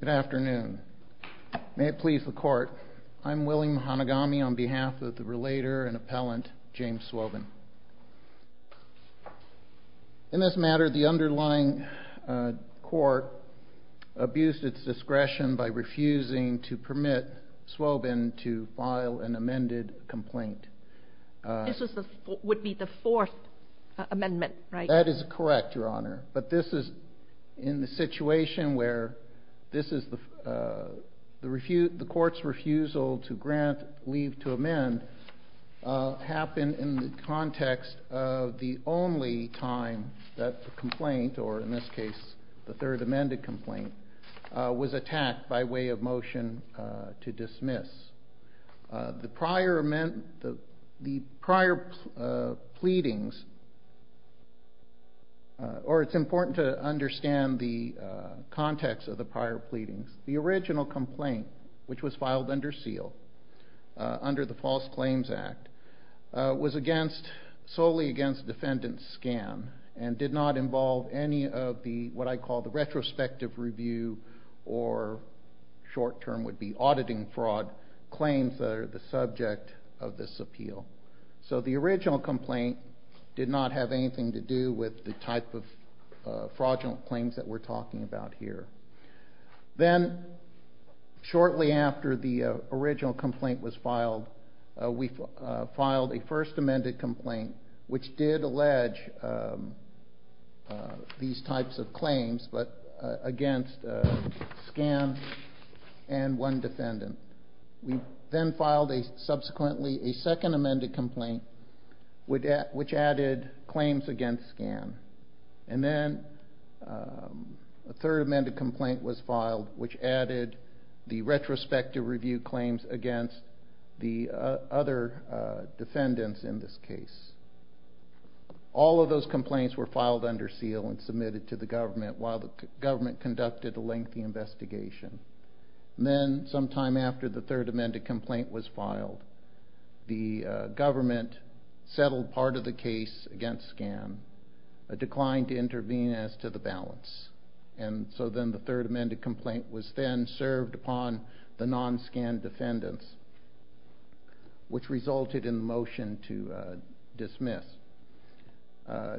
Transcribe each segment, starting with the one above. Good afternoon. May it please the court, I'm William Hanagami on behalf of the relator and appellant James Swobin. In this matter, the underlying court abused its discretion by refusing to permit Swobin to file an amended complaint. This would be the fourth amendment, right? That is correct, Your Honor, but this is in the situation where this is the refute, the court's refusal to grant leave to amend happened in the context of the only time that the complaint, or in this case the third amended complaint, was attacked by way of motion to Or it's important to understand the context of the prior pleadings. The original complaint, which was filed under seal, under the False Claims Act, was against, solely against defendant's scam, and did not involve any of the, what I call the retrospective review, or short term would be auditing fraud, claims that are the subject of this appeal. So the original complaint did not have anything to do with the type of fraudulent claims that we're talking about here. Then, shortly after the original complaint was filed, we filed a first amended complaint, which did allege these types of claims, but against scam and one defendant. We then filed a, subsequently, a second amended complaint, which added claims against scam, and then a third amended complaint was filed, which added the retrospective review claims against the other defendants in this case. All of those complaints were filed under seal and submitted to the government while the government conducted a lengthy investigation. Then, sometime after the third amended complaint was filed, the government settled part of the case against scam, but declined to intervene as to the balance. And so then the third amended complaint was then served upon the non-scam defendants, which resulted in the motion to dismiss.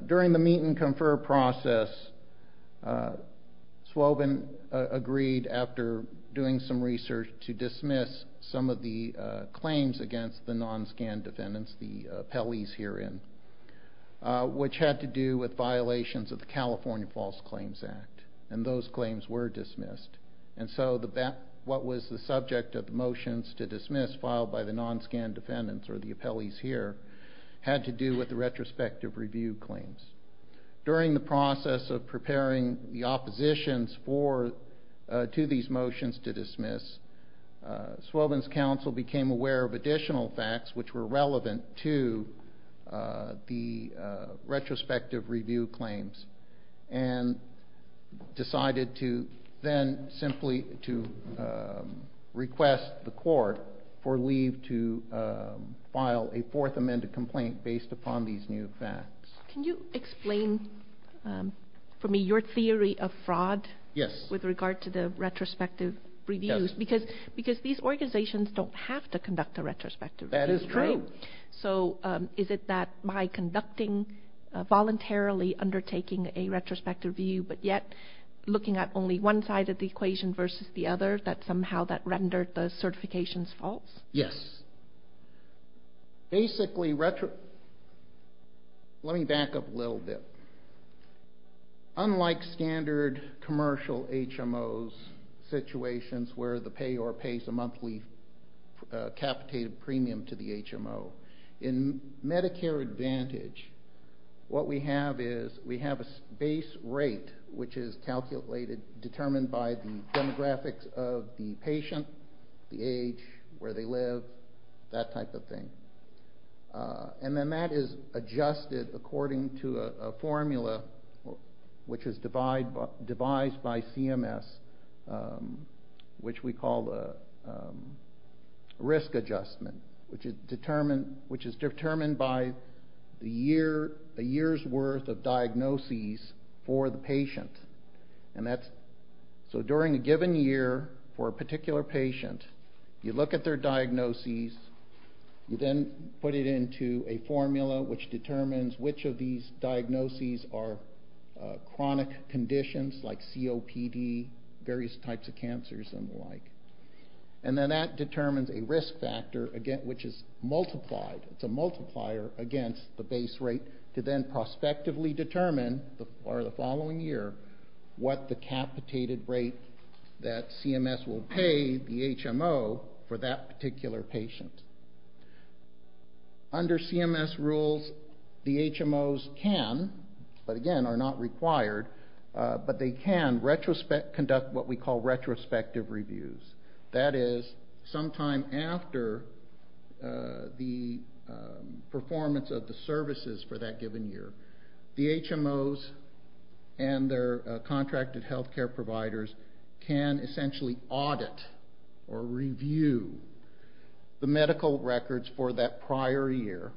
During the meet and confer process, Swobin agreed, after doing some research, to dismiss some of the claims against the non-scam defendants, the appellees herein, which had to do with violations of the California False Claims Act, and those claims were dismissed. And so what was the subject of the motions to dismiss filed by the non-scam defendants, or the appellees here, had to do with the retrospective review claims. During the process of preparing the oppositions to these motions to dismiss, Swobin's counsel became aware of additional facts which were relevant to the retrospective review claims, and decided to then simply to request the court for leave to file a fourth amended complaint based upon these new facts. Can you explain for me your theory of fraud? Yes. With regard to the retrospective reviews, because these organizations don't have to conduct a retrospective review. That is true. So is it that by conducting, voluntarily undertaking a retrospective review, but yet looking at only one side of the equation versus the other, that somehow that rendered the certifications false? Yes. Basically, let me back up a little bit. Unlike standard commercial HMOs situations where the payor pays a monthly capitated premium to the HMO, in Medicare Advantage, what we have is we have a base rate which is calculated, determined by the demographics of the patient, the age, where they live, that type of thing. And then that is adjusted according to a formula which is devised by CMS, which we call the risk adjustment, which is determined by the year's worth of diagnoses for the patient. And that's during a given year for a particular patient, you look at their diagnoses, you then put it into a formula which determines which of these diagnoses are chronic conditions like COPD, various types of cancers and the like. And then that determines a risk factor which is multiplied, it's a multiplier against the base rate to then prospectively determine for the following year what the capitated rate that CMS will pay the HMO for that particular patient. Under CMS rules, the HMOs can, but again are not required, but they can conduct what we call retrospective reviews. That is, sometime after the performance of the services for that given year, the HMOs and their contracted health care providers can essentially audit or review the medical records for that prior year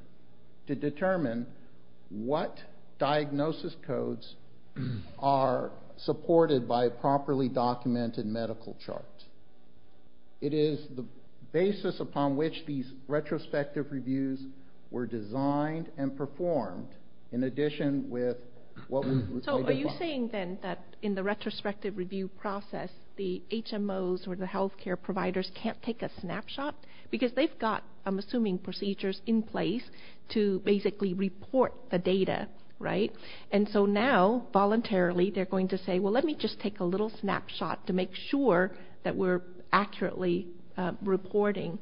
to the basis upon which these retrospective reviews were designed and performed in addition with what we say before. So are you saying then that in the retrospective review process, the HMOs or the health care providers can't take a snapshot? Because they've got, I'm assuming, procedures in place to basically report the data, right? And so now, voluntarily, they're going to say, well, let me just take a little snapshot to make sure that we're accurately reporting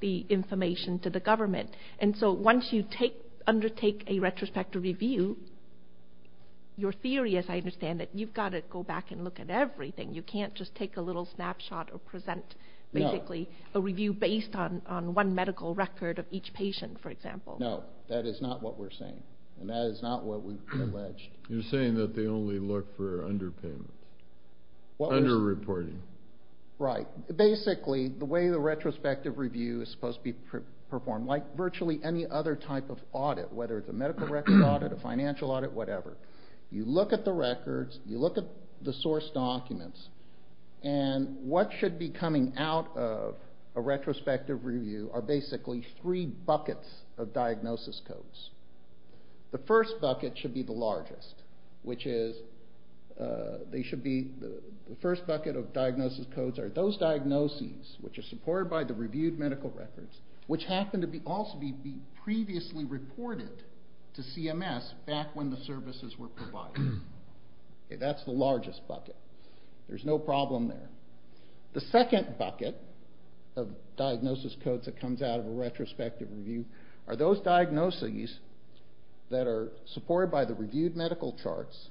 the information to the government. And so once you undertake a retrospective review, your theory, as I understand it, you've got to go back and look at everything. You can't just take a little snapshot or present basically a review based on one medical record of each patient, for example. No, that is not what we're saying. And that is not what we've alleged. You're saying that they only look for underpayments, underreporting. Right. Basically, the way the retrospective review is supposed to be performed, like virtually any other type of audit, whether it's a medical record audit, a financial audit, whatever, you look at the records, you look at the source documents, and what should be coming out of a retrospective review are basically three buckets of diagnosis codes. The first bucket should be the largest, which is, they should be, the first bucket of diagnosis codes are those diagnoses which are supported by the reviewed medical records, which happen to also be previously reported to CMS back when the services were provided. That's the largest bucket. There's no problem there. The second bucket of diagnosis codes in a retrospective review are those diagnoses that are supported by the reviewed medical charts,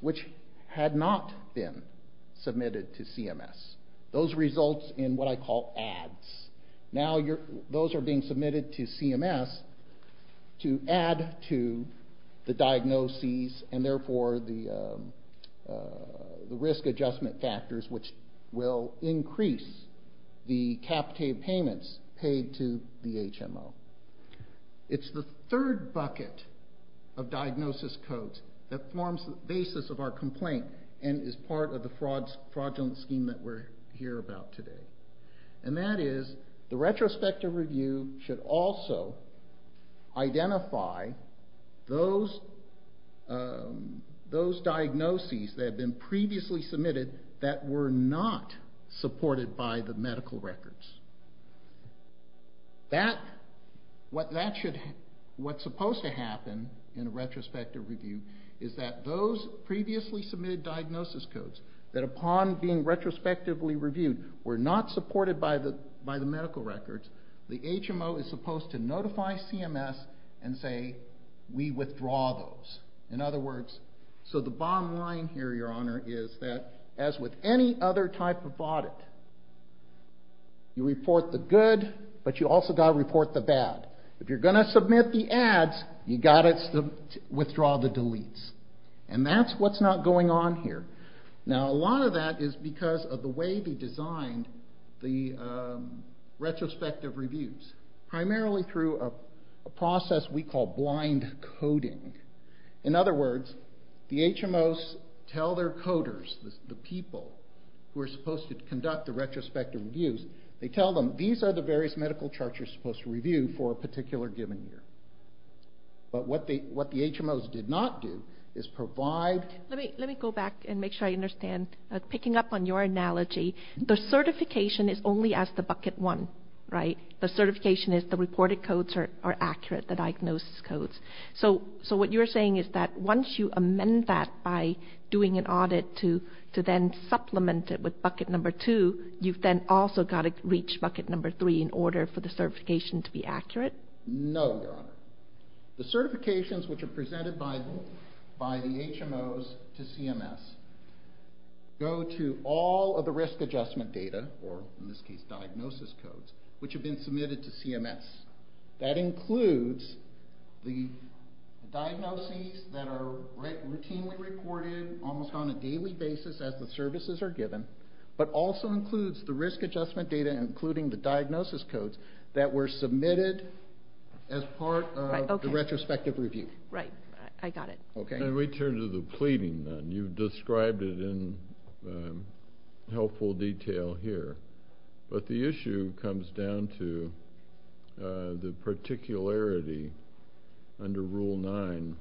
which had not been submitted to CMS. Those results in what I call ads. Now those are being submitted to CMS to add to the diagnoses and therefore the risk adjustment factors, which will increase the cap paid payments paid to the HMO. It's the third bucket of diagnosis codes that forms the basis of our complaint and is part of the fraudulent scheme that we're here about today. And that is, the retrospective review should also identify those diagnoses that had been submitted by the medical records. What's supposed to happen in a retrospective review is that those previously submitted diagnosis codes, that upon being retrospectively reviewed, were not supported by the medical records, the HMO is supposed to notify CMS and say, we withdraw those. In other words, you report the good, but you also got to report the bad. If you're going to submit the ads, you got to withdraw the deletes. And that's what's not going on here. Now a lot of that is because of the way they designed the retrospective reviews, primarily through a process we call blind coding. In other words, the HMOs tell their coders, the people who are supposed to conduct the retrospective reviews, they tell them, these are the various medical charts you're supposed to review for a particular given year. But what the HMOs did not do is provide... Let me go back and make sure I understand. Picking up on your analogy, the certification is only as the bucket one, right? The certification is the reported codes are accurate, the diagnosis codes. So what you're saying is that once you amend that by doing an audit to then supplement it with bucket number two, you've then also got to reach bucket number three in order for the certification to be accurate? No, Your Honor. The certifications which are presented by the HMOs to CMS go to all of the risk adjustment data, or in this case diagnosis codes, which have been submitted to CMS. That includes the diagnoses that are routinely recorded almost on a daily basis as the services are given, but also includes the risk adjustment data including the diagnosis codes that were submitted as part of the retrospective review. Right, I got it. Okay, we turn to the pleading then. You've described it in helpful detail here, but the issue comes down to the particularity under Rule 9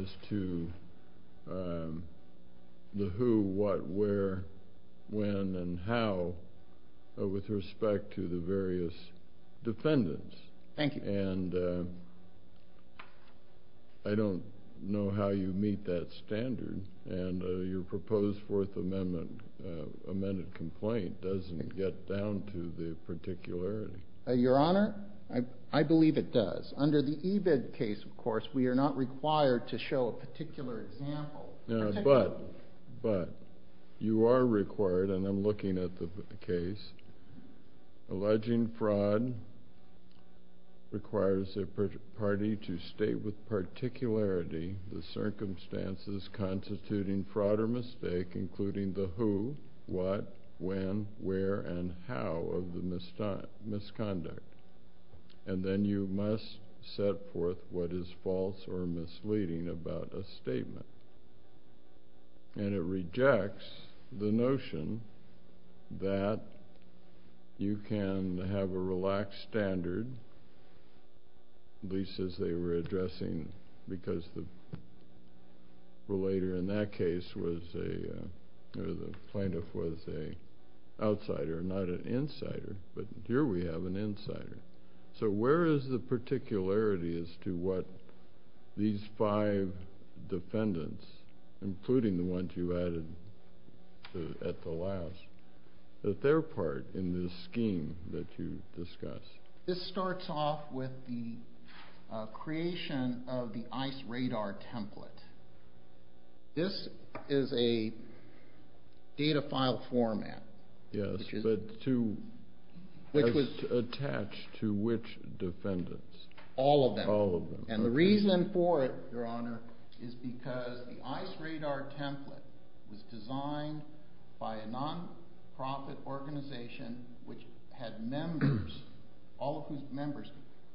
as to the who, what, where, when, and how with respect to the various defendants. Thank you. And I don't know how you meet that standard, and your proposed Fourth Amendment amended complaint doesn't get down to the particularity. Your Honor, I believe it does. Under the EBIDT case, of course, we are not required to show a particular example. But you are required, and I'm looking at the case, alleging fraud requires a party to state with particularity the circumstances constituting fraud or mistake, including the who, what, when, where, and how of the misconduct. And then you must set forth what is false or misleading about a statement. And it rejects the notion that you can have a relaxed standard, at least as they were addressing, because the relator in that case was a, or the plaintiff was a outsider, not an insider. But here we have an insider. So where is the particularity as to what these five defendants, including the ones you with the creation of the ICE radar template? This is a data file format. Yes, but to, which was attached to which defendants? All of them. All of them. And the reason for it, Your Honor, is because the ICE radar template was designed by a non-profit organization which had members, all of whose members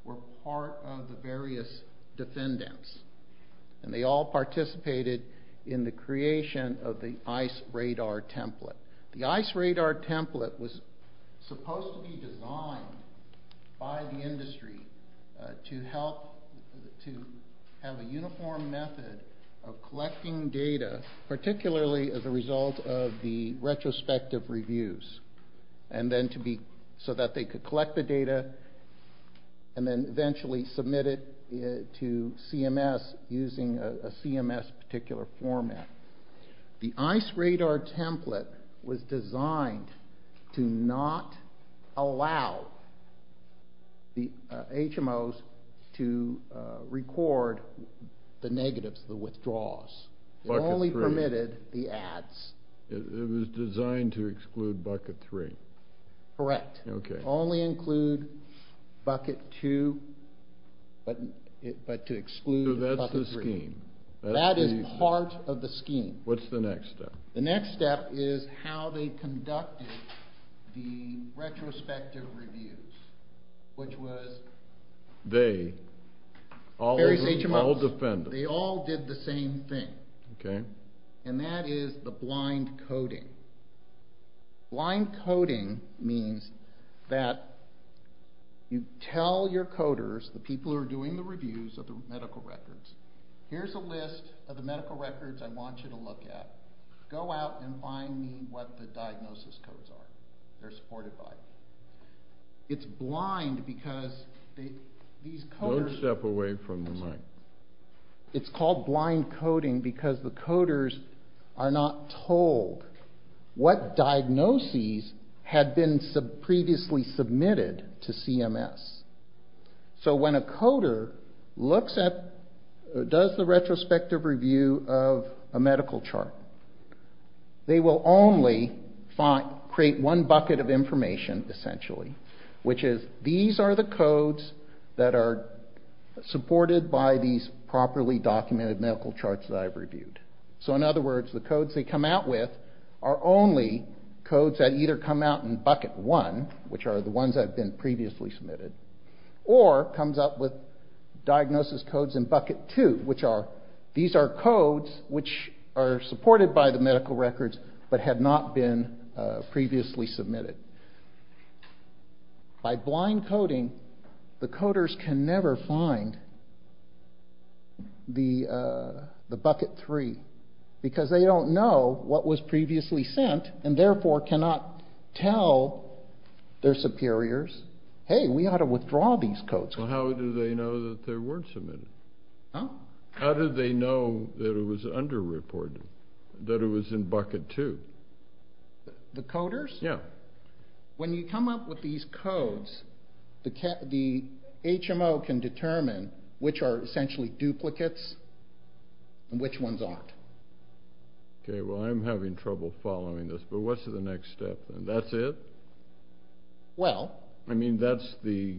were part of the various defendants. And they all participated in the creation of the ICE radar template. The ICE radar template was supposed to be designed by the industry to help, to have a uniform method of collecting data, particularly as a result of the retrospective reviews. And then to be, so that they could collect the data and then eventually submit it to CMS using a CMS particular format. The ICE radar template was designed to not allow the HMOs to record the negatives, the withdrawals. It only permitted the ads. It was designed to exclude bucket three. Correct. Okay. Only include bucket two, but to exclude bucket three. So that's the scheme. That is part of the scheme. What's the next step? The next step is how they conducted the retrospective reviews. Which was? They, all the defendants. They all did the same thing. Okay. And that is the blind coding. Blind coding means that you tell your coders, the people who are doing the reviews of the medical records, here's a list of the medical records I want you look at. Go out and find me what the diagnosis codes are. They're supported by. It's blind because these coders. Don't step away from the mic. It's called blind coding because the coders are not told what diagnoses had been previously submitted to CMS. So when a coder looks at, does the retrospective review of a medical chart, they will only find, create one bucket of information essentially, which is these are the codes that are supported by these properly documented medical charts that I've reviewed. So in other words, the codes they come out with are only codes that either come out in bucket one, which are the ones that have been previously submitted, or comes up with diagnosis codes in bucket two, which are, these are codes which are supported by the medical records, but had not been previously submitted. By blind coding, the coders can never find the bucket three because they don't know what was submitted. How do they know that it was underreported, that it was in bucket two? The coders? Yeah. When you come up with these codes, the HMO can determine which are essentially duplicates and which ones aren't. Okay. Well, I'm having trouble following this, but what's the next step then? That's it? Well. I mean, that's the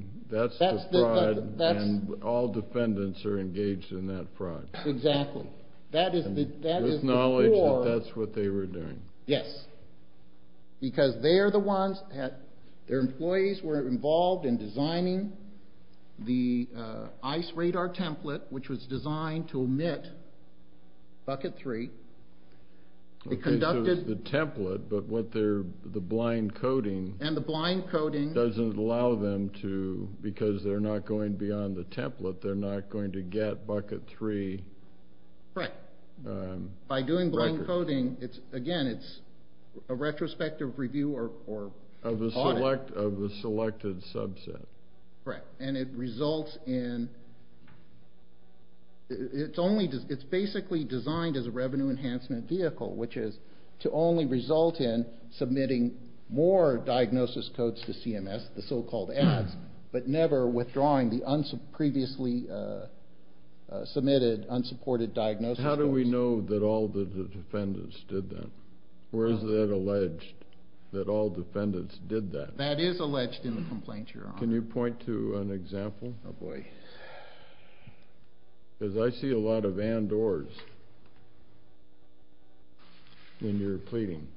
fraud and all defendants are engaged in that fraud. Exactly. That is the core. With knowledge that that's what they were doing. Yes. Because they are the ones that, their employees were involved in designing the ICE radar template, which was designed to omit bucket three. Okay, so it's the template, but what they're, the blind coding. And the blind coding. Doesn't allow them to, because they're not going beyond the template, they're not going to get bucket three. Correct. By doing blind coding, it's, again, it's a retrospective review or audit. Of a select, of a selected subset. Correct. And it results in, it's only, it's basically designed as a revenue enhancement vehicle, which is to only result in submitting more diagnosis codes to CMS, the so-called ads, but never withdrawing the previously submitted, unsupported diagnosis. How do we know that all the defendants did that? Or is that alleged, that all defendants did that? That is alleged in the complaint, Your Honor. Can you point to an example? Oh boy. Because I see a lot of and-ors in your pleading.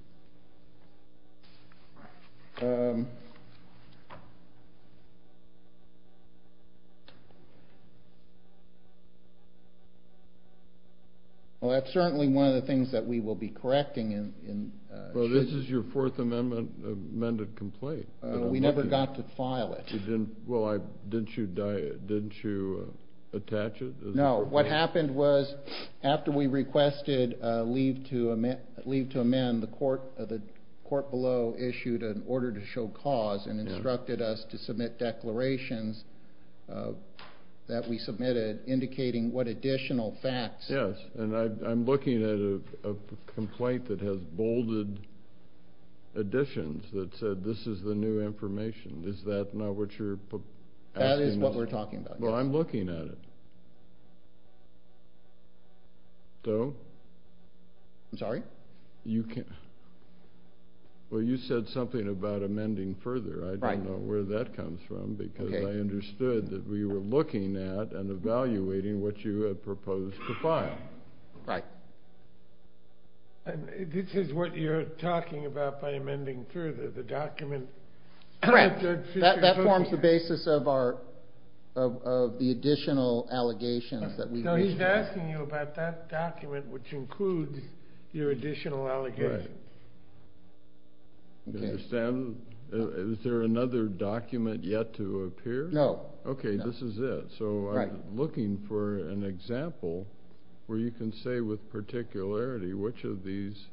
Well, that's certainly one of the things that we will be correcting in. Well, this is your fourth amendment, amended complaint. We never got to file it. Well, didn't you attach it? No. What happened was, after we requested leave to amend, the court below issued an order to show cause and instructed us to submit declarations that we submitted, indicating what additional facts. Yes. And I'm looking at a complaint that has bolded additions that said, this is the new information. Is that not what you're asking? That is what we're talking about. Well, I'm looking at it. So? I'm sorry? Well, you said something about amending further. I don't know where that comes from, because I understood that we were looking at and evaluating what you had proposed to file. Right. And this is what you're talking about by amending further, the document? Correct. That forms the basis of the additional allegations that we've issued. No, he's asking you about that document, which includes your additional allegations. Do you understand? Is there another document yet to appear? No. Okay, this is it. Looking for an example where you can say with particularity which of these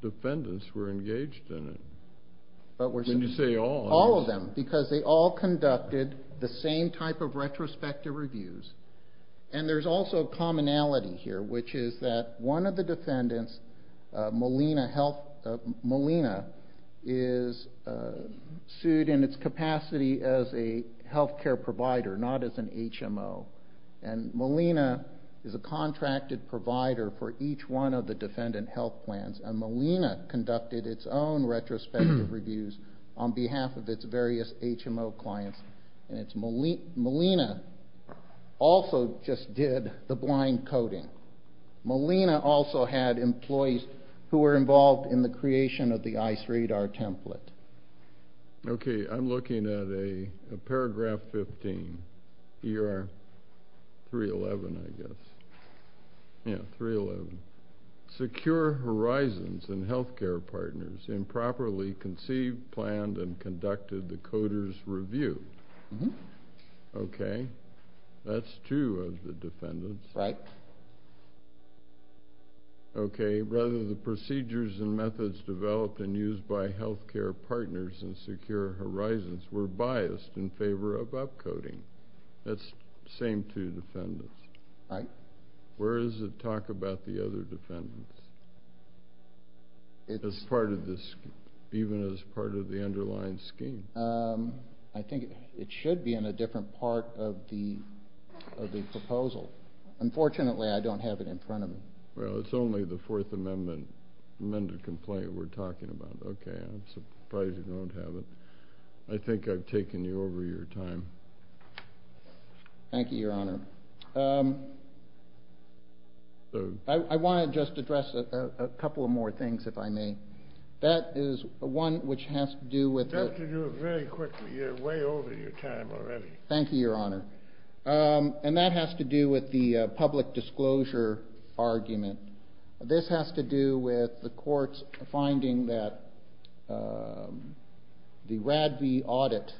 defendants were engaged in it. Can you say all? All of them, because they all conducted the same type of retrospective reviews. And there's also a commonality here, which is that one of the defendants, Molina, is sued in its capacity as a healthcare provider, not as an HMO. And Molina is a contracted provider for each one of the defendant health plans, and Molina conducted its own retrospective reviews on behalf of its various HMO clients. And Molina also just did the blind coding. Molina also had employees who were involved in the creation of the ICE radar template. Okay, I'm looking at a paragraph 15, ER 311, I guess. Yeah, 311. Secure horizons and healthcare partners improperly conceived, planned, and conducted the coder's review. Okay, that's two of the defendants. Right. Okay, rather the procedures and methods developed and used by healthcare partners and secure horizons were biased in favor of upcoding. That's the same two defendants. Right. Where does it talk about the other defendants? It's part of this, even as part of the underlying scheme. I think it should be in a different part of the proposal. Unfortunately, I don't have it in front of me. Well, it's only the Fourth Amendment amended complaint we're talking about. Okay, I'm surprised you don't have it. I think I've taken you over your time. Thank you, Your Honor. I want to just address a couple of more things, if I may. That is one which has to do with... You have to do it very quickly. You're way over your time already. Thank you, Your Honor. And that has to do with the public disclosure argument. This has to do with the courts finding that the RADV audit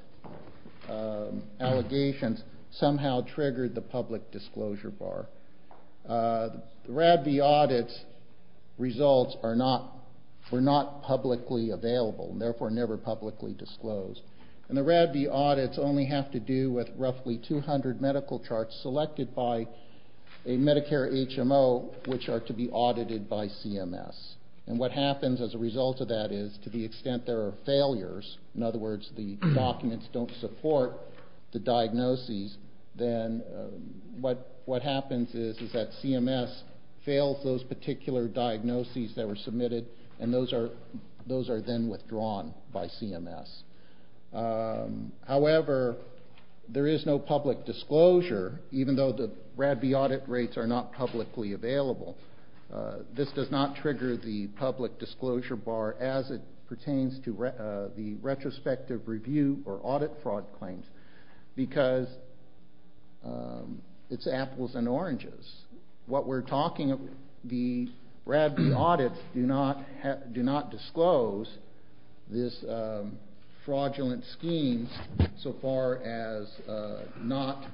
allegations somehow triggered the public disclosure bar. The RADV audits results were not publicly available, therefore never publicly disclosed. And the RADV audits only have to do with roughly 200 medical charts selected by a Medicare HMO, which are to be audited by CMS. And what happens as a result of that is, to the extent there are failures, in other words, the documents don't support the diagnoses, then what happens is that CMS fails those particular diagnoses that were submitted, and those are then withdrawn by CMS. However, there is no public disclosure, even though the RADV audit rates are not publicly available. This does not trigger the public disclosure bar as it pertains to the retrospective review or audit fraud claims, because it's apples and oranges. The RADV audits do not disclose this fraudulent scheme so far as not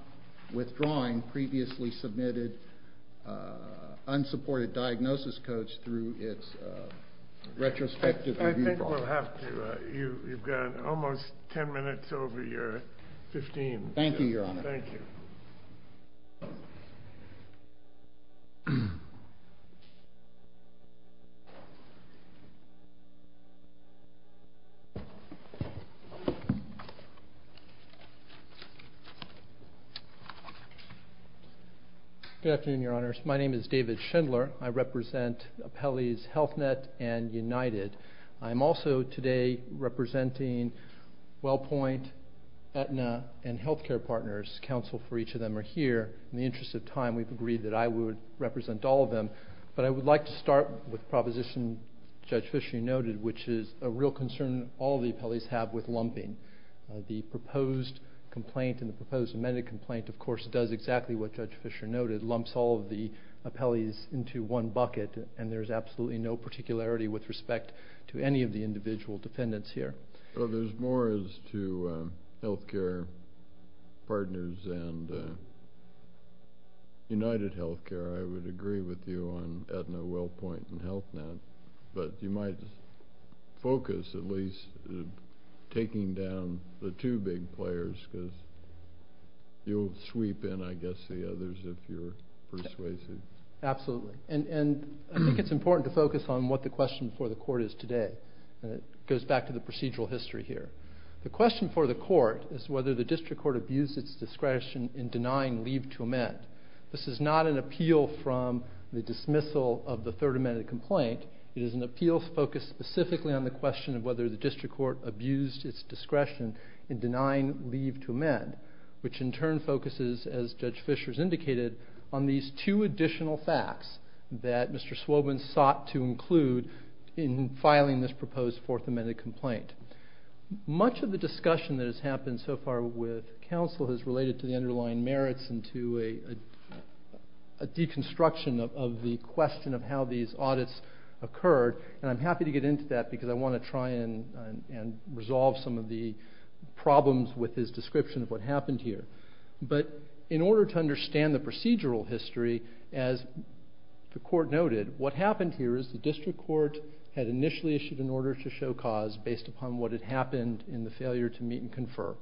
withdrawing previously submitted unsupported diagnosis codes through its 15. Thank you, Your Honor. Good afternoon, Your Honor. My name is David Schindler. I represent and healthcare partners. Counsel for each of them are here. In the interest of time, we've agreed that I would represent all of them, but I would like to start with a proposition Judge Fischer noted, which is a real concern all of the appellees have with lumping. The proposed complaint and the proposed amended complaint, of course, does exactly what Judge Fischer noted, lumps all of the appellees into one bucket, and there's absolutely no particularity with respect to any of the individual defendants here. Well, there's more as to healthcare partners and UnitedHealthcare, I would agree with you on Aetna, WellPoint, and HealthNet, but you might focus at least taking down the two big players, because you'll sweep in, I guess, the others if you're persuasive. Absolutely, and I think it's important to focus on what the question for the court is today. It goes back to the procedural history here. The question for the court is whether the district court abused its discretion in denying leave to amend. This is not an appeal from the dismissal of the third amended complaint. It is an appeal focused specifically on the question of whether the district court abused its discretion in denying leave to amend, which in turn focuses, as Judge Fischer has indicated, on these two additional facts that Mr. Swobin sought to include in filing this proposed fourth amended complaint. Much of the discussion that has happened so far with counsel has related to the underlying merits and to a deconstruction of the question of how these audits occurred, and I'm happy to get into that because I want to try and resolve some of the problems with his description of what happened here. But in order to understand the procedural history, as the court noted, what happened here is the district court had initially issued an order to show cause based upon what had happened in the failure to meet and confer.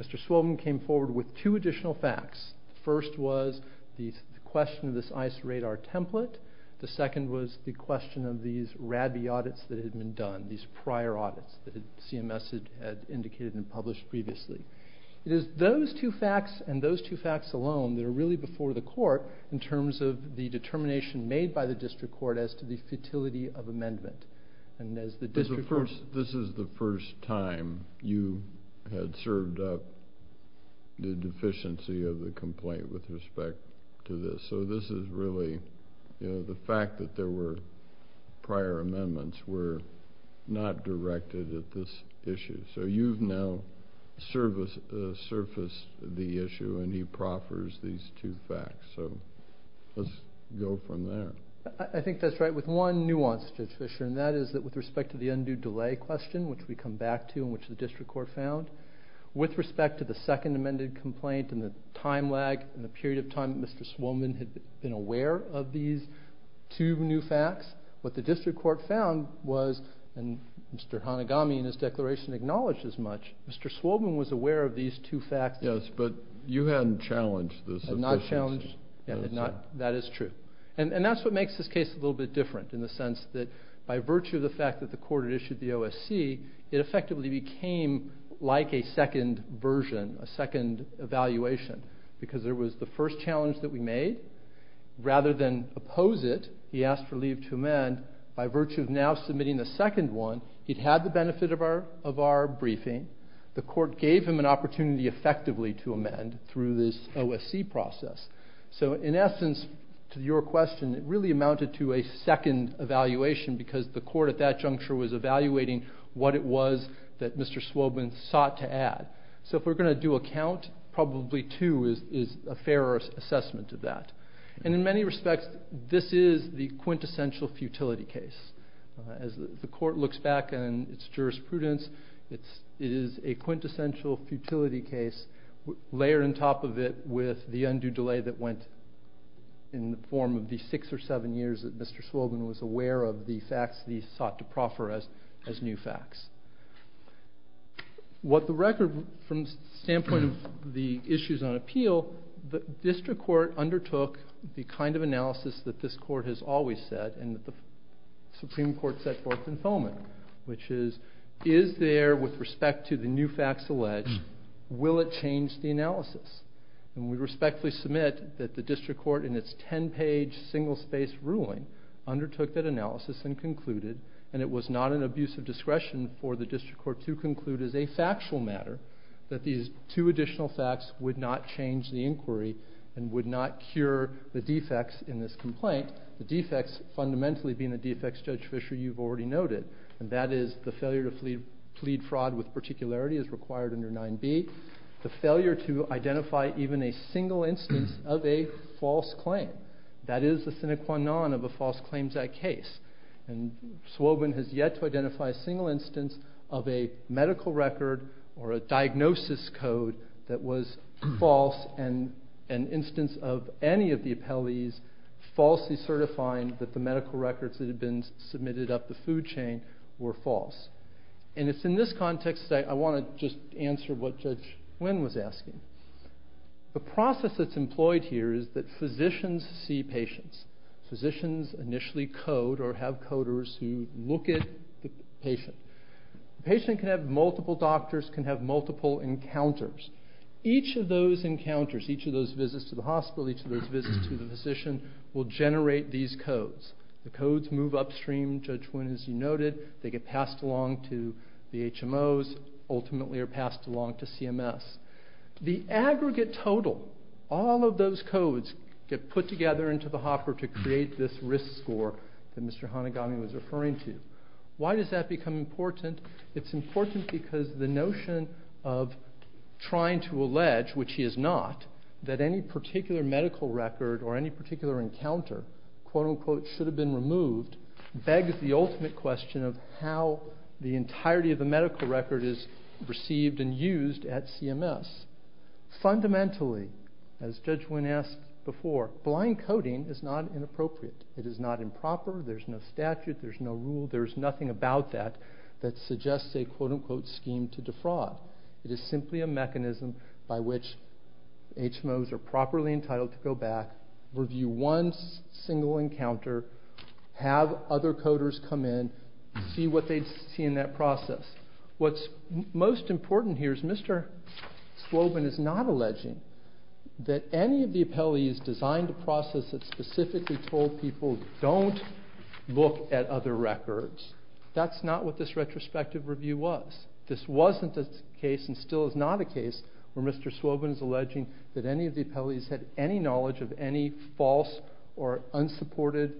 Mr. Swobin came forward with two additional facts. The first was the question of this ICE radar template. The second was the question of these RABI audits that had been done, these prior audits that CMS had indicated and published previously. It is those two facts and those two facts alone that are really before the court in terms of the determination made by the district court as to the futility of amendment. This is the first time you had served up the deficiency of the complaint with respect to this, so this is really the fact that there were prior amendments were not directed at this go from there. I think that's right with one nuance, Judge Fischer, and that is that with respect to the undue delay question, which we come back to and which the district court found, with respect to the second amended complaint and the time lag and the period of time that Mr. Swobin had been aware of these two new facts, what the district court found was, and Mr. Hanagami in his declaration acknowledged as much, Mr. Swobin was aware of these two facts. Yes, but you hadn't challenged this. I had not challenged. That is true, and that's what makes this case a little bit different in the sense that by virtue of the fact that the court had issued the OSC, it effectively became like a second version, a second evaluation, because there was the first challenge that we made. Rather than oppose it, he asked for leave to amend. By virtue of now submitting the second one, he'd had the benefit of our briefing. The court gave him an opportunity effectively to amend through this OSC process. So in essence, to your question, it really amounted to a second evaluation because the court at that juncture was evaluating what it was that Mr. Swobin sought to add. So if we're going to do a count, probably two is a fairer assessment of that. And in many respects, this is the quintessential futility case. As the court looks back on its jurisprudence, it is a quintessential futility case layered on top of it with the undue delay that went in the form of the six or seven years that Mr. Swobin was aware of the facts that he sought to proffer as new facts. What the record from the standpoint of the issues on appeal, the district court undertook the kind of analysis that this court has always said and that the court set forth in FOMA, which is, is there with respect to the new facts alleged, will it change the analysis? And we respectfully submit that the district court in its 10-page single-space ruling undertook that analysis and concluded, and it was not an abuse of discretion for the district court to conclude as a factual matter, that these two additional facts would not change the inquiry and would not cure the defects in this complaint. The defects fundamentally being the defects Judge Fisher, you've already noted, and that is the failure to plead fraud with particularity as required under 9b, the failure to identify even a single instance of a false claim. That is the sine qua non of a false claims act case. And Swobin has yet to identify a single instance of a medical record or a diagnosis code that was false and an instance of any of the appellees falsely certifying that the medical records that had been submitted up the food chain were false. And it's in this context that I want to just answer what Judge Nguyen was asking. The process that's employed here is that physicians see patients. Physicians initially code or have coders who look at the patient. The patient can have multiple doctors, can have multiple encounters. Each of those encounters, each of those visits to the hospital, each of those visits to the physician will generate these codes. The codes move upstream. Judge Nguyen, as you noted, they get passed along to the HMOs, ultimately are passed along to CMS. The aggregate total, all of those codes get put together into the hopper to create this risk score that Mr. Haneghani was referring to. Why does that become important? It's important because the notion of trying to allege, which he is not, that any medical record or any particular encounter, quote unquote, should have been removed, begs the ultimate question of how the entirety of the medical record is received and used at CMS. Fundamentally, as Judge Nguyen asked before, blind coding is not inappropriate. It is not improper. There's no statute. There's no rule. There's nothing about that that suggests a, quote unquote, entitled to go back, review one single encounter, have other coders come in, see what they see in that process. What's most important here is Mr. Swobin is not alleging that any of the appellees designed a process that specifically told people don't look at other records. That's not what this retrospective review was. This wasn't a case and still is not a case where Mr. Swobin is alleging that any of the appellees had any knowledge of any false or unsupported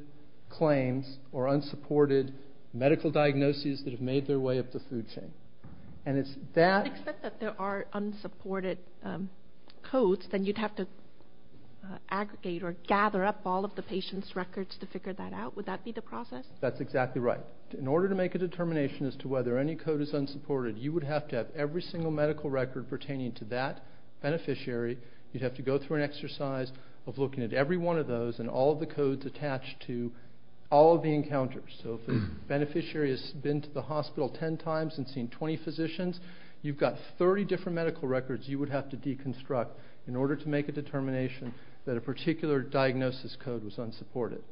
claims or unsupported medical diagnoses that have made their way up the food chain. And it's that... I expect that there are unsupported codes, then you'd have to aggregate or gather up all of the patient's records to figure that out. Would that be the process? That's exactly right. In order to make a determination as to whether any code is unsupported, you would have to have every single medical record pertaining to that beneficiary, you'd have to go through an exercise of looking at every one of those and all of the codes attached to all of the encounters. So if the beneficiary has been to the hospital 10 times and seen 20 physicians, you've got 30 different medical records you would have to deconstruct in order to make a determination that a particular diagnosis code was unsupported.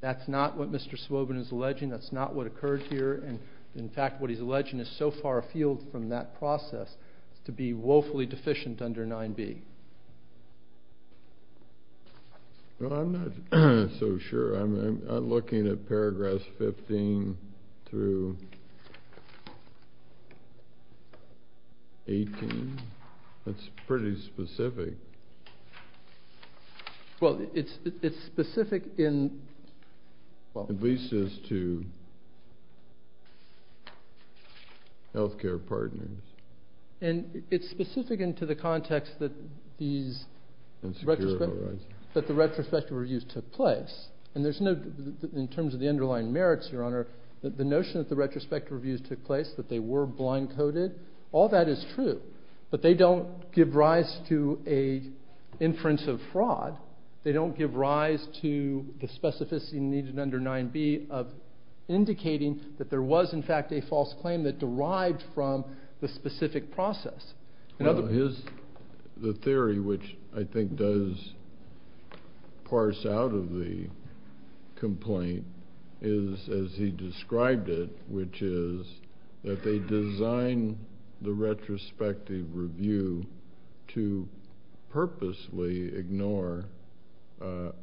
That's not what Mr. Swobin is alleging, that's not what occurred here, and in fact what he's 9B. Well, I'm not so sure. I'm looking at paragraphs 15 through 18. That's pretty specific. Well, it's specific in... At least as to health care partners. And it's specific in the context that the retrospective reviews took place. In terms of the underlying merits, Your Honor, the notion that the retrospective reviews took place, that they were blind-coded, all that is true. But they don't give rise to an inference of fraud. They don't give rise to the specificity needed under 9B of indicating that there was, in fact, a false claim that derived from the specific process. The theory which I think does parse out of the complaint is, as he described it, which is that they design the retrospective review to purposely ignore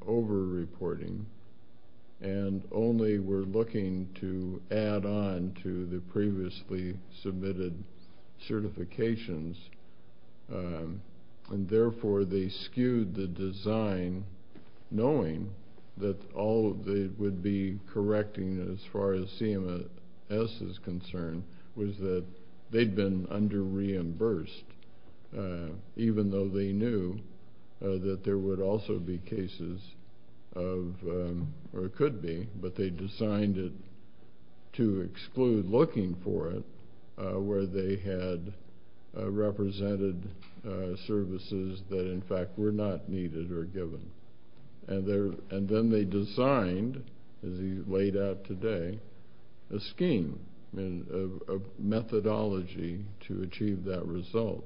over-reporting and only were looking to add on to the previously submitted certifications, and therefore they skewed the design knowing that all they would be correcting, as far as CMS is concerned, was that they'd been under-reimbursed, even though they knew that there would also be or could be, but they designed it to exclude looking for it where they had represented services that, in fact, were not needed or given. And then they designed, as he laid out today, a scheme, a methodology to achieve that result.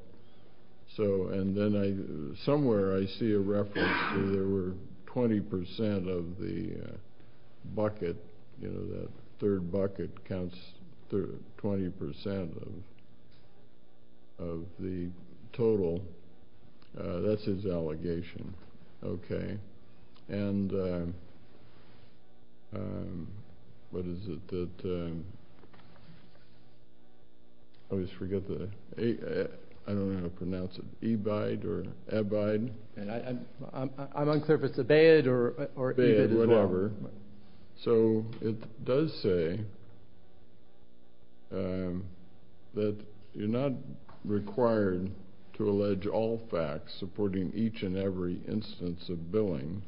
And then somewhere I see a reference to there were 20 percent of the bucket, you know, that third bucket counts 20 percent of the total. That's his allegation. Okay. And what is it that, I always forget the, I don't know how to pronounce it, e-bide or e-bide? I'm unclear if it's e-bide or e-bide as well. E-bide, whatever. So it does say that you're not required to allege all facts supporting each and every instance of billing,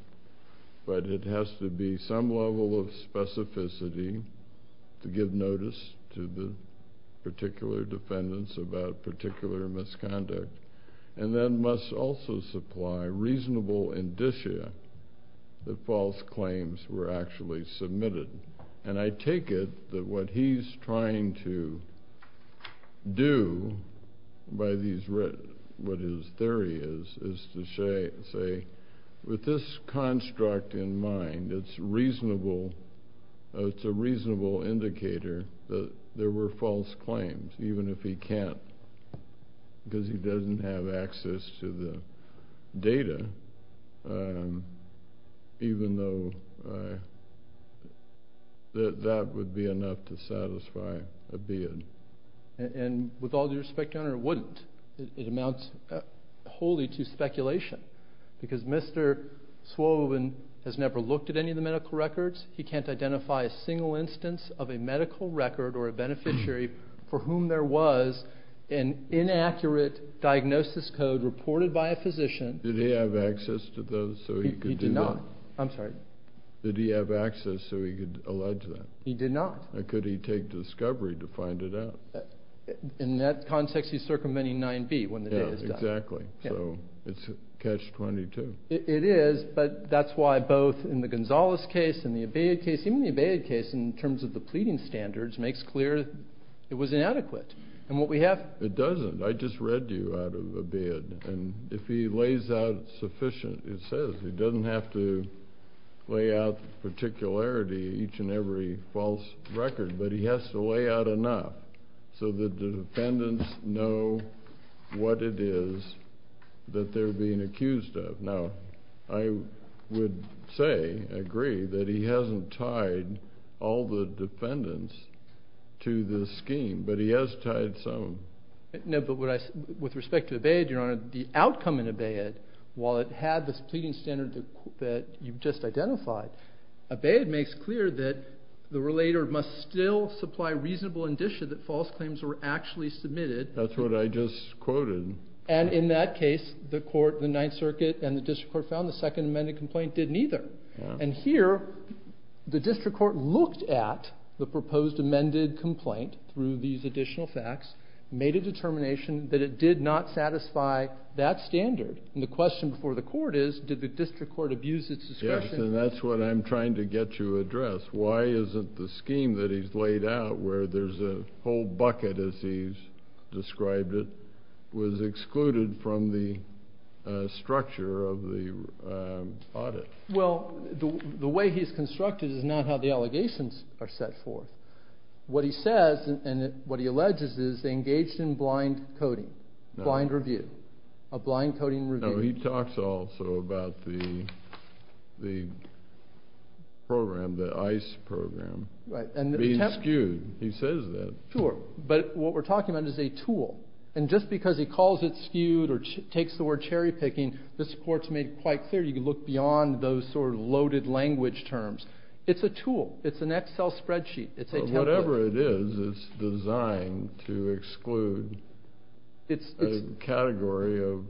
but it has to be some level of specificity to give notice to the particular defendants about particular misconduct, and then must also supply reasonable indicia that false claims were actually submitted. And I take it that what he's trying to do by these, what his theory is, is to say, with this construct in mind, it's reasonable, it's a reasonable indicator that there were false claims, even if he can't, because he doesn't have access to the data, even though that would be enough to satisfy a bid. And with all due respect, Your Honor, it wouldn't. It amounts wholly to speculation, because Mr. Swobin has never looked at any of for whom there was an inaccurate diagnosis code reported by a physician. Did he have access to those so he could do that? He did not. I'm sorry. Did he have access so he could allege that? He did not. Could he take discovery to find it out? In that context, he's circumventing 9b when the data is done. Yeah, exactly. So it's catch-22. It is, but that's why both in the Gonzalez case and the Abeyed case, even the Abeyed case, in terms of the pleading standards, makes clear it was inadequate. And what we have... It doesn't. I just read you out of Abeyed, and if he lays out sufficient, it says he doesn't have to lay out particularity each and every false record, but he has to lay out enough so that the defendants know what it is that they're being tied to. He hasn't tied all the defendants to this scheme, but he has tied some. No, but with respect to the Abeyed, Your Honor, the outcome in Abeyed, while it had this pleading standard that you've just identified, Abeyed makes clear that the relator must still supply reasonable indicia that false claims were actually submitted. That's what I just quoted. And in that case, the court, the Ninth Circuit, and the district court found the second amended complaint didn't either. And here, the district court looked at the proposed amended complaint through these additional facts, made a determination that it did not satisfy that standard. And the question before the court is, did the district court abuse its discretion? Yes, and that's what I'm trying to get to address. Why isn't the scheme that he's laid out, where there's a whole bucket, as he's The way he's constructed is not how the allegations are set forth. What he says, and what he alleges, is they engaged in blind coding, blind review, a blind coding review. No, he talks also about the program, the ICE program being skewed. He says that. Sure, but what we're talking about is a tool. And just because he calls it skewed or takes the word language terms, it's a tool. It's an Excel spreadsheet. It's a template. Whatever it is, it's designed to exclude a category of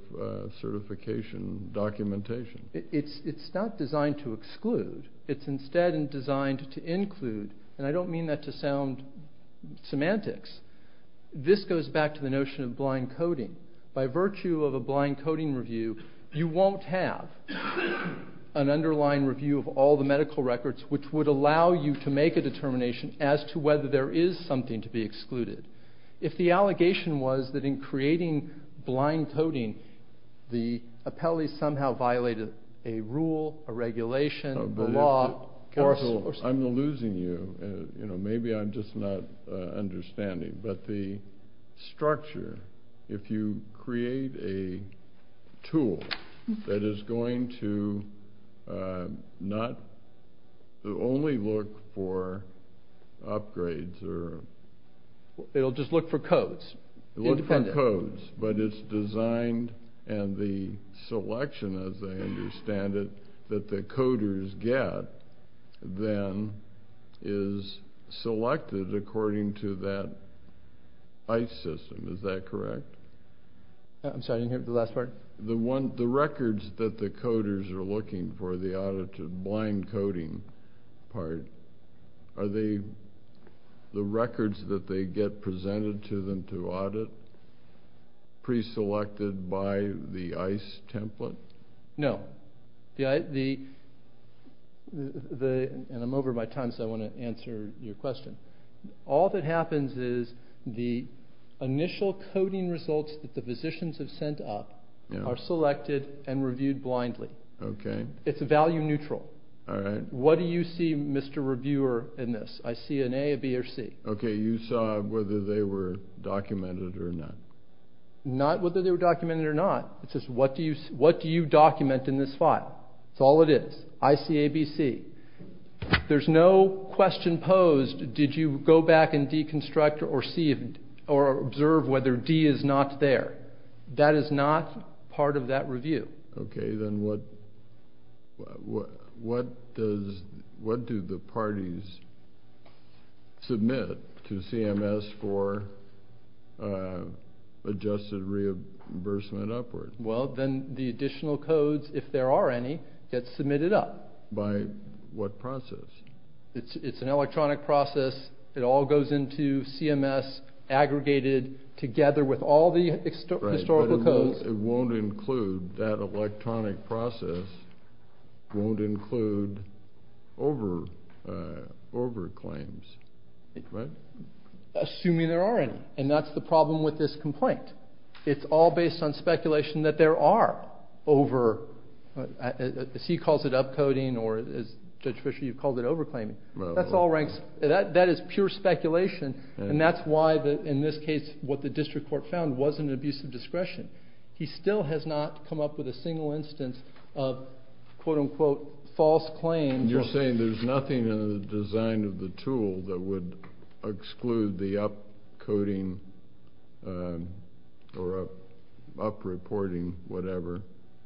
certification documentation. It's not designed to exclude. It's instead designed to include. And I don't mean that to sound semantics. This goes back to the notion of blind coding. By virtue of a blind coding review, you won't have an underlying review of all the medical records, which would allow you to make a determination as to whether there is something to be excluded. If the allegation was that in creating blind coding, the appellee somehow violated a rule, a regulation, the law, or I'm losing you. Maybe I'm just not understanding. But the structure, if you create a tool that is going to not only look for upgrades or... It'll just look for codes. Look for codes, but it's designed and the selection, as I understand it, that the coders get, then, is selected according to that ICE system. Is that correct? I'm sorry, you didn't hear the last part? The records that the coders are looking for, the audited blind coding part, are they the records that they get presented to them to audit pre-selected by the ICE template? No. I'm over my time, so I want to answer your question. All that happens is the initial coding results that the physicians have sent up are selected and reviewed blindly. It's a value neutral. What do you see, Mr. Reviewer, in this? I see an A, a B, or C. Okay, you saw whether they were documented or not. Not whether they were documented or not. It's just what do you document in this file? That's all it is. I see A, B, C. There's no question posed, did you go back and deconstruct or observe whether D is not there? That is not part of that review. Okay, then what do the parties submit to CMS for adjusted reimbursement upward? Well, then the additional codes, if there are any, get submitted up. By what process? It's an electronic process. It all goes into CMS aggregated together with all the historical codes. It won't include, that electronic process won't include over claims, right? Assuming there are any, and that's the problem with this complaint. It's all based on speculation that there are over, as he calls it, upcoding, or as Judge Fisher, you've called it over claiming. That's all ranks, that is pure speculation, and that's why, in this case, what the district court found wasn't an abuse of discretion. He still has not come up with a single instance of, quote unquote, false claims. You're saying there's nothing in the design of the tool that would exclude the upcoding or upreporting, whatever?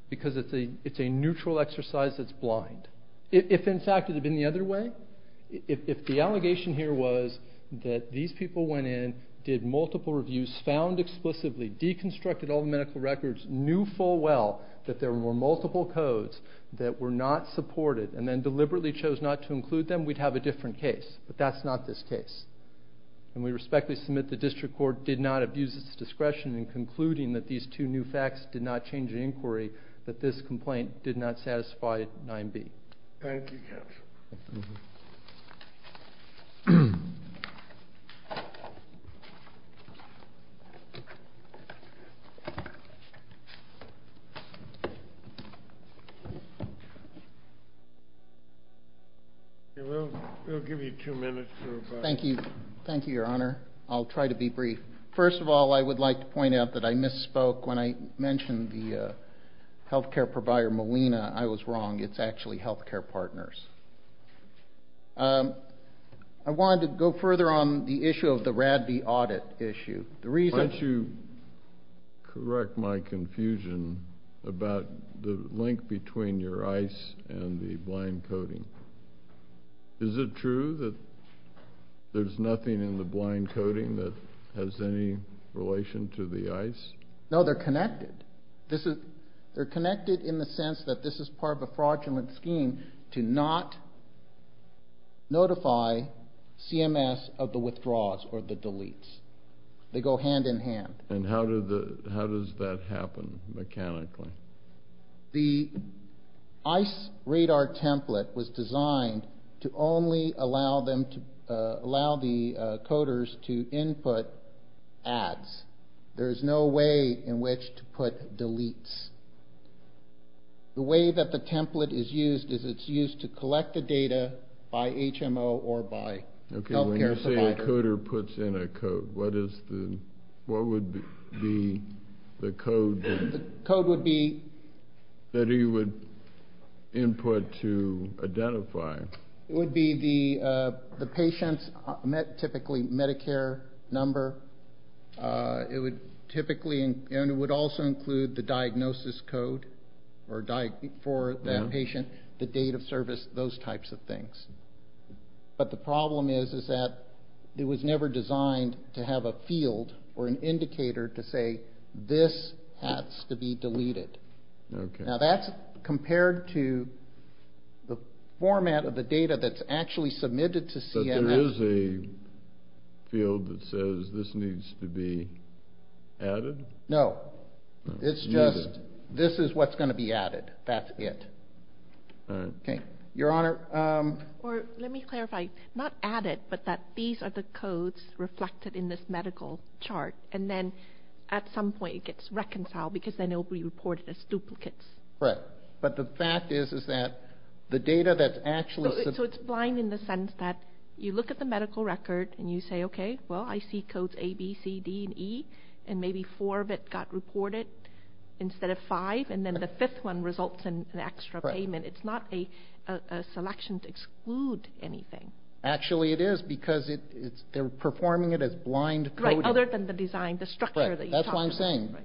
Because it's a neutral exercise that's blind. If, in fact, it had been the other way, if the allegation here was that these people went in, did multiple reviews, found explicitly, deconstructed all the medical records, knew full well that there were multiple codes that were not supported, and then deliberately chose not to include them, we'd have a different case. But that's not this case. And we respectfully submit the district court did not abuse its discretion in concluding that these two new facts did not change the inquiry, that this complaint did not satisfy 9b. Thank you, counsel. We'll give you two minutes for rebuttal. Thank you. Thank you, Your Honor. I'll try to be brief. First of all, I would like to point out that I misspoke when I mentioned the health care provider, Molina. I was wrong. It's actually healthcare partners. I wanted to go further on the issue of the RADB audit issue. Why don't you correct my confusion about the link between your ICE and the blind coding? Is it true that there's nothing in the blind coding that has any relation to the ICE? No, they're connected. They're connected in the sense that this is part of a fraudulent scheme to not notify CMS of the withdraws or the deletes. They go hand in hand. And how does that happen mechanically? The ICE radar template was designed to only allow the coders to input ads. There is no way in which to put deletes. The way that the template is used is it's used to collect the data by HMO or by healthcare provider. When you say a coder puts in a code, what would be the code that he would input to identify? It would be the patient's Medicare number. It would also include the diagnosis code for that patient, the date of service, those types of things. But the problem is that it was never designed to have a field or an indicator to say, this has to be deleted. Now that's compared to the format of the data that's actually submitted to CMS. But there is a field that says this needs to be added? No. It's just, this is what's going to be added. That's it. Okay. Your Honor. Let me clarify. Not added, but that these are the codes reflected in this medical chart. And then at some point it gets reconciled because then it will be reported as duplicates. Right. But the fact is, is that the data that's actually... So it's blind in the sense that you look at the medical record and you say, okay, well, I see codes A, B, C, D, and E, and maybe four of it got reported instead of five. And then the fifth one results in an extra payment. It's not a selection to exclude anything. Actually, it is because they're performing it as blind coding. Other than the design, the structure that you talked about. Right. That's what I'm saying.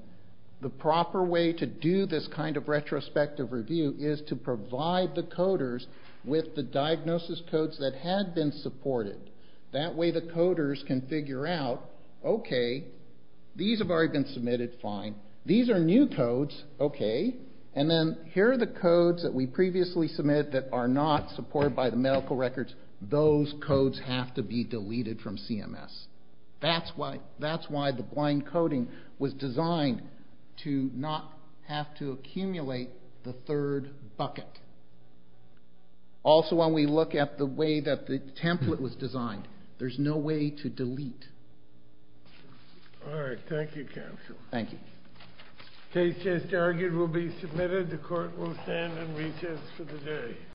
The proper way to do this kind of retrospective review is to provide the coders with the diagnosis codes that had been supported. That way the coders can figure out, okay, these have already been submitted. Fine. These are new codes. Okay. And then here are the codes that we previously submitted that are not by the medical records. Those codes have to be deleted from CMS. That's why the blind coding was designed to not have to accumulate the third bucket. Also, when we look at the way that the template was designed, there's no way to delete. All right. Thank you, counsel. Thank you. Case just argued will be submitted. The court will stand in recess for the day.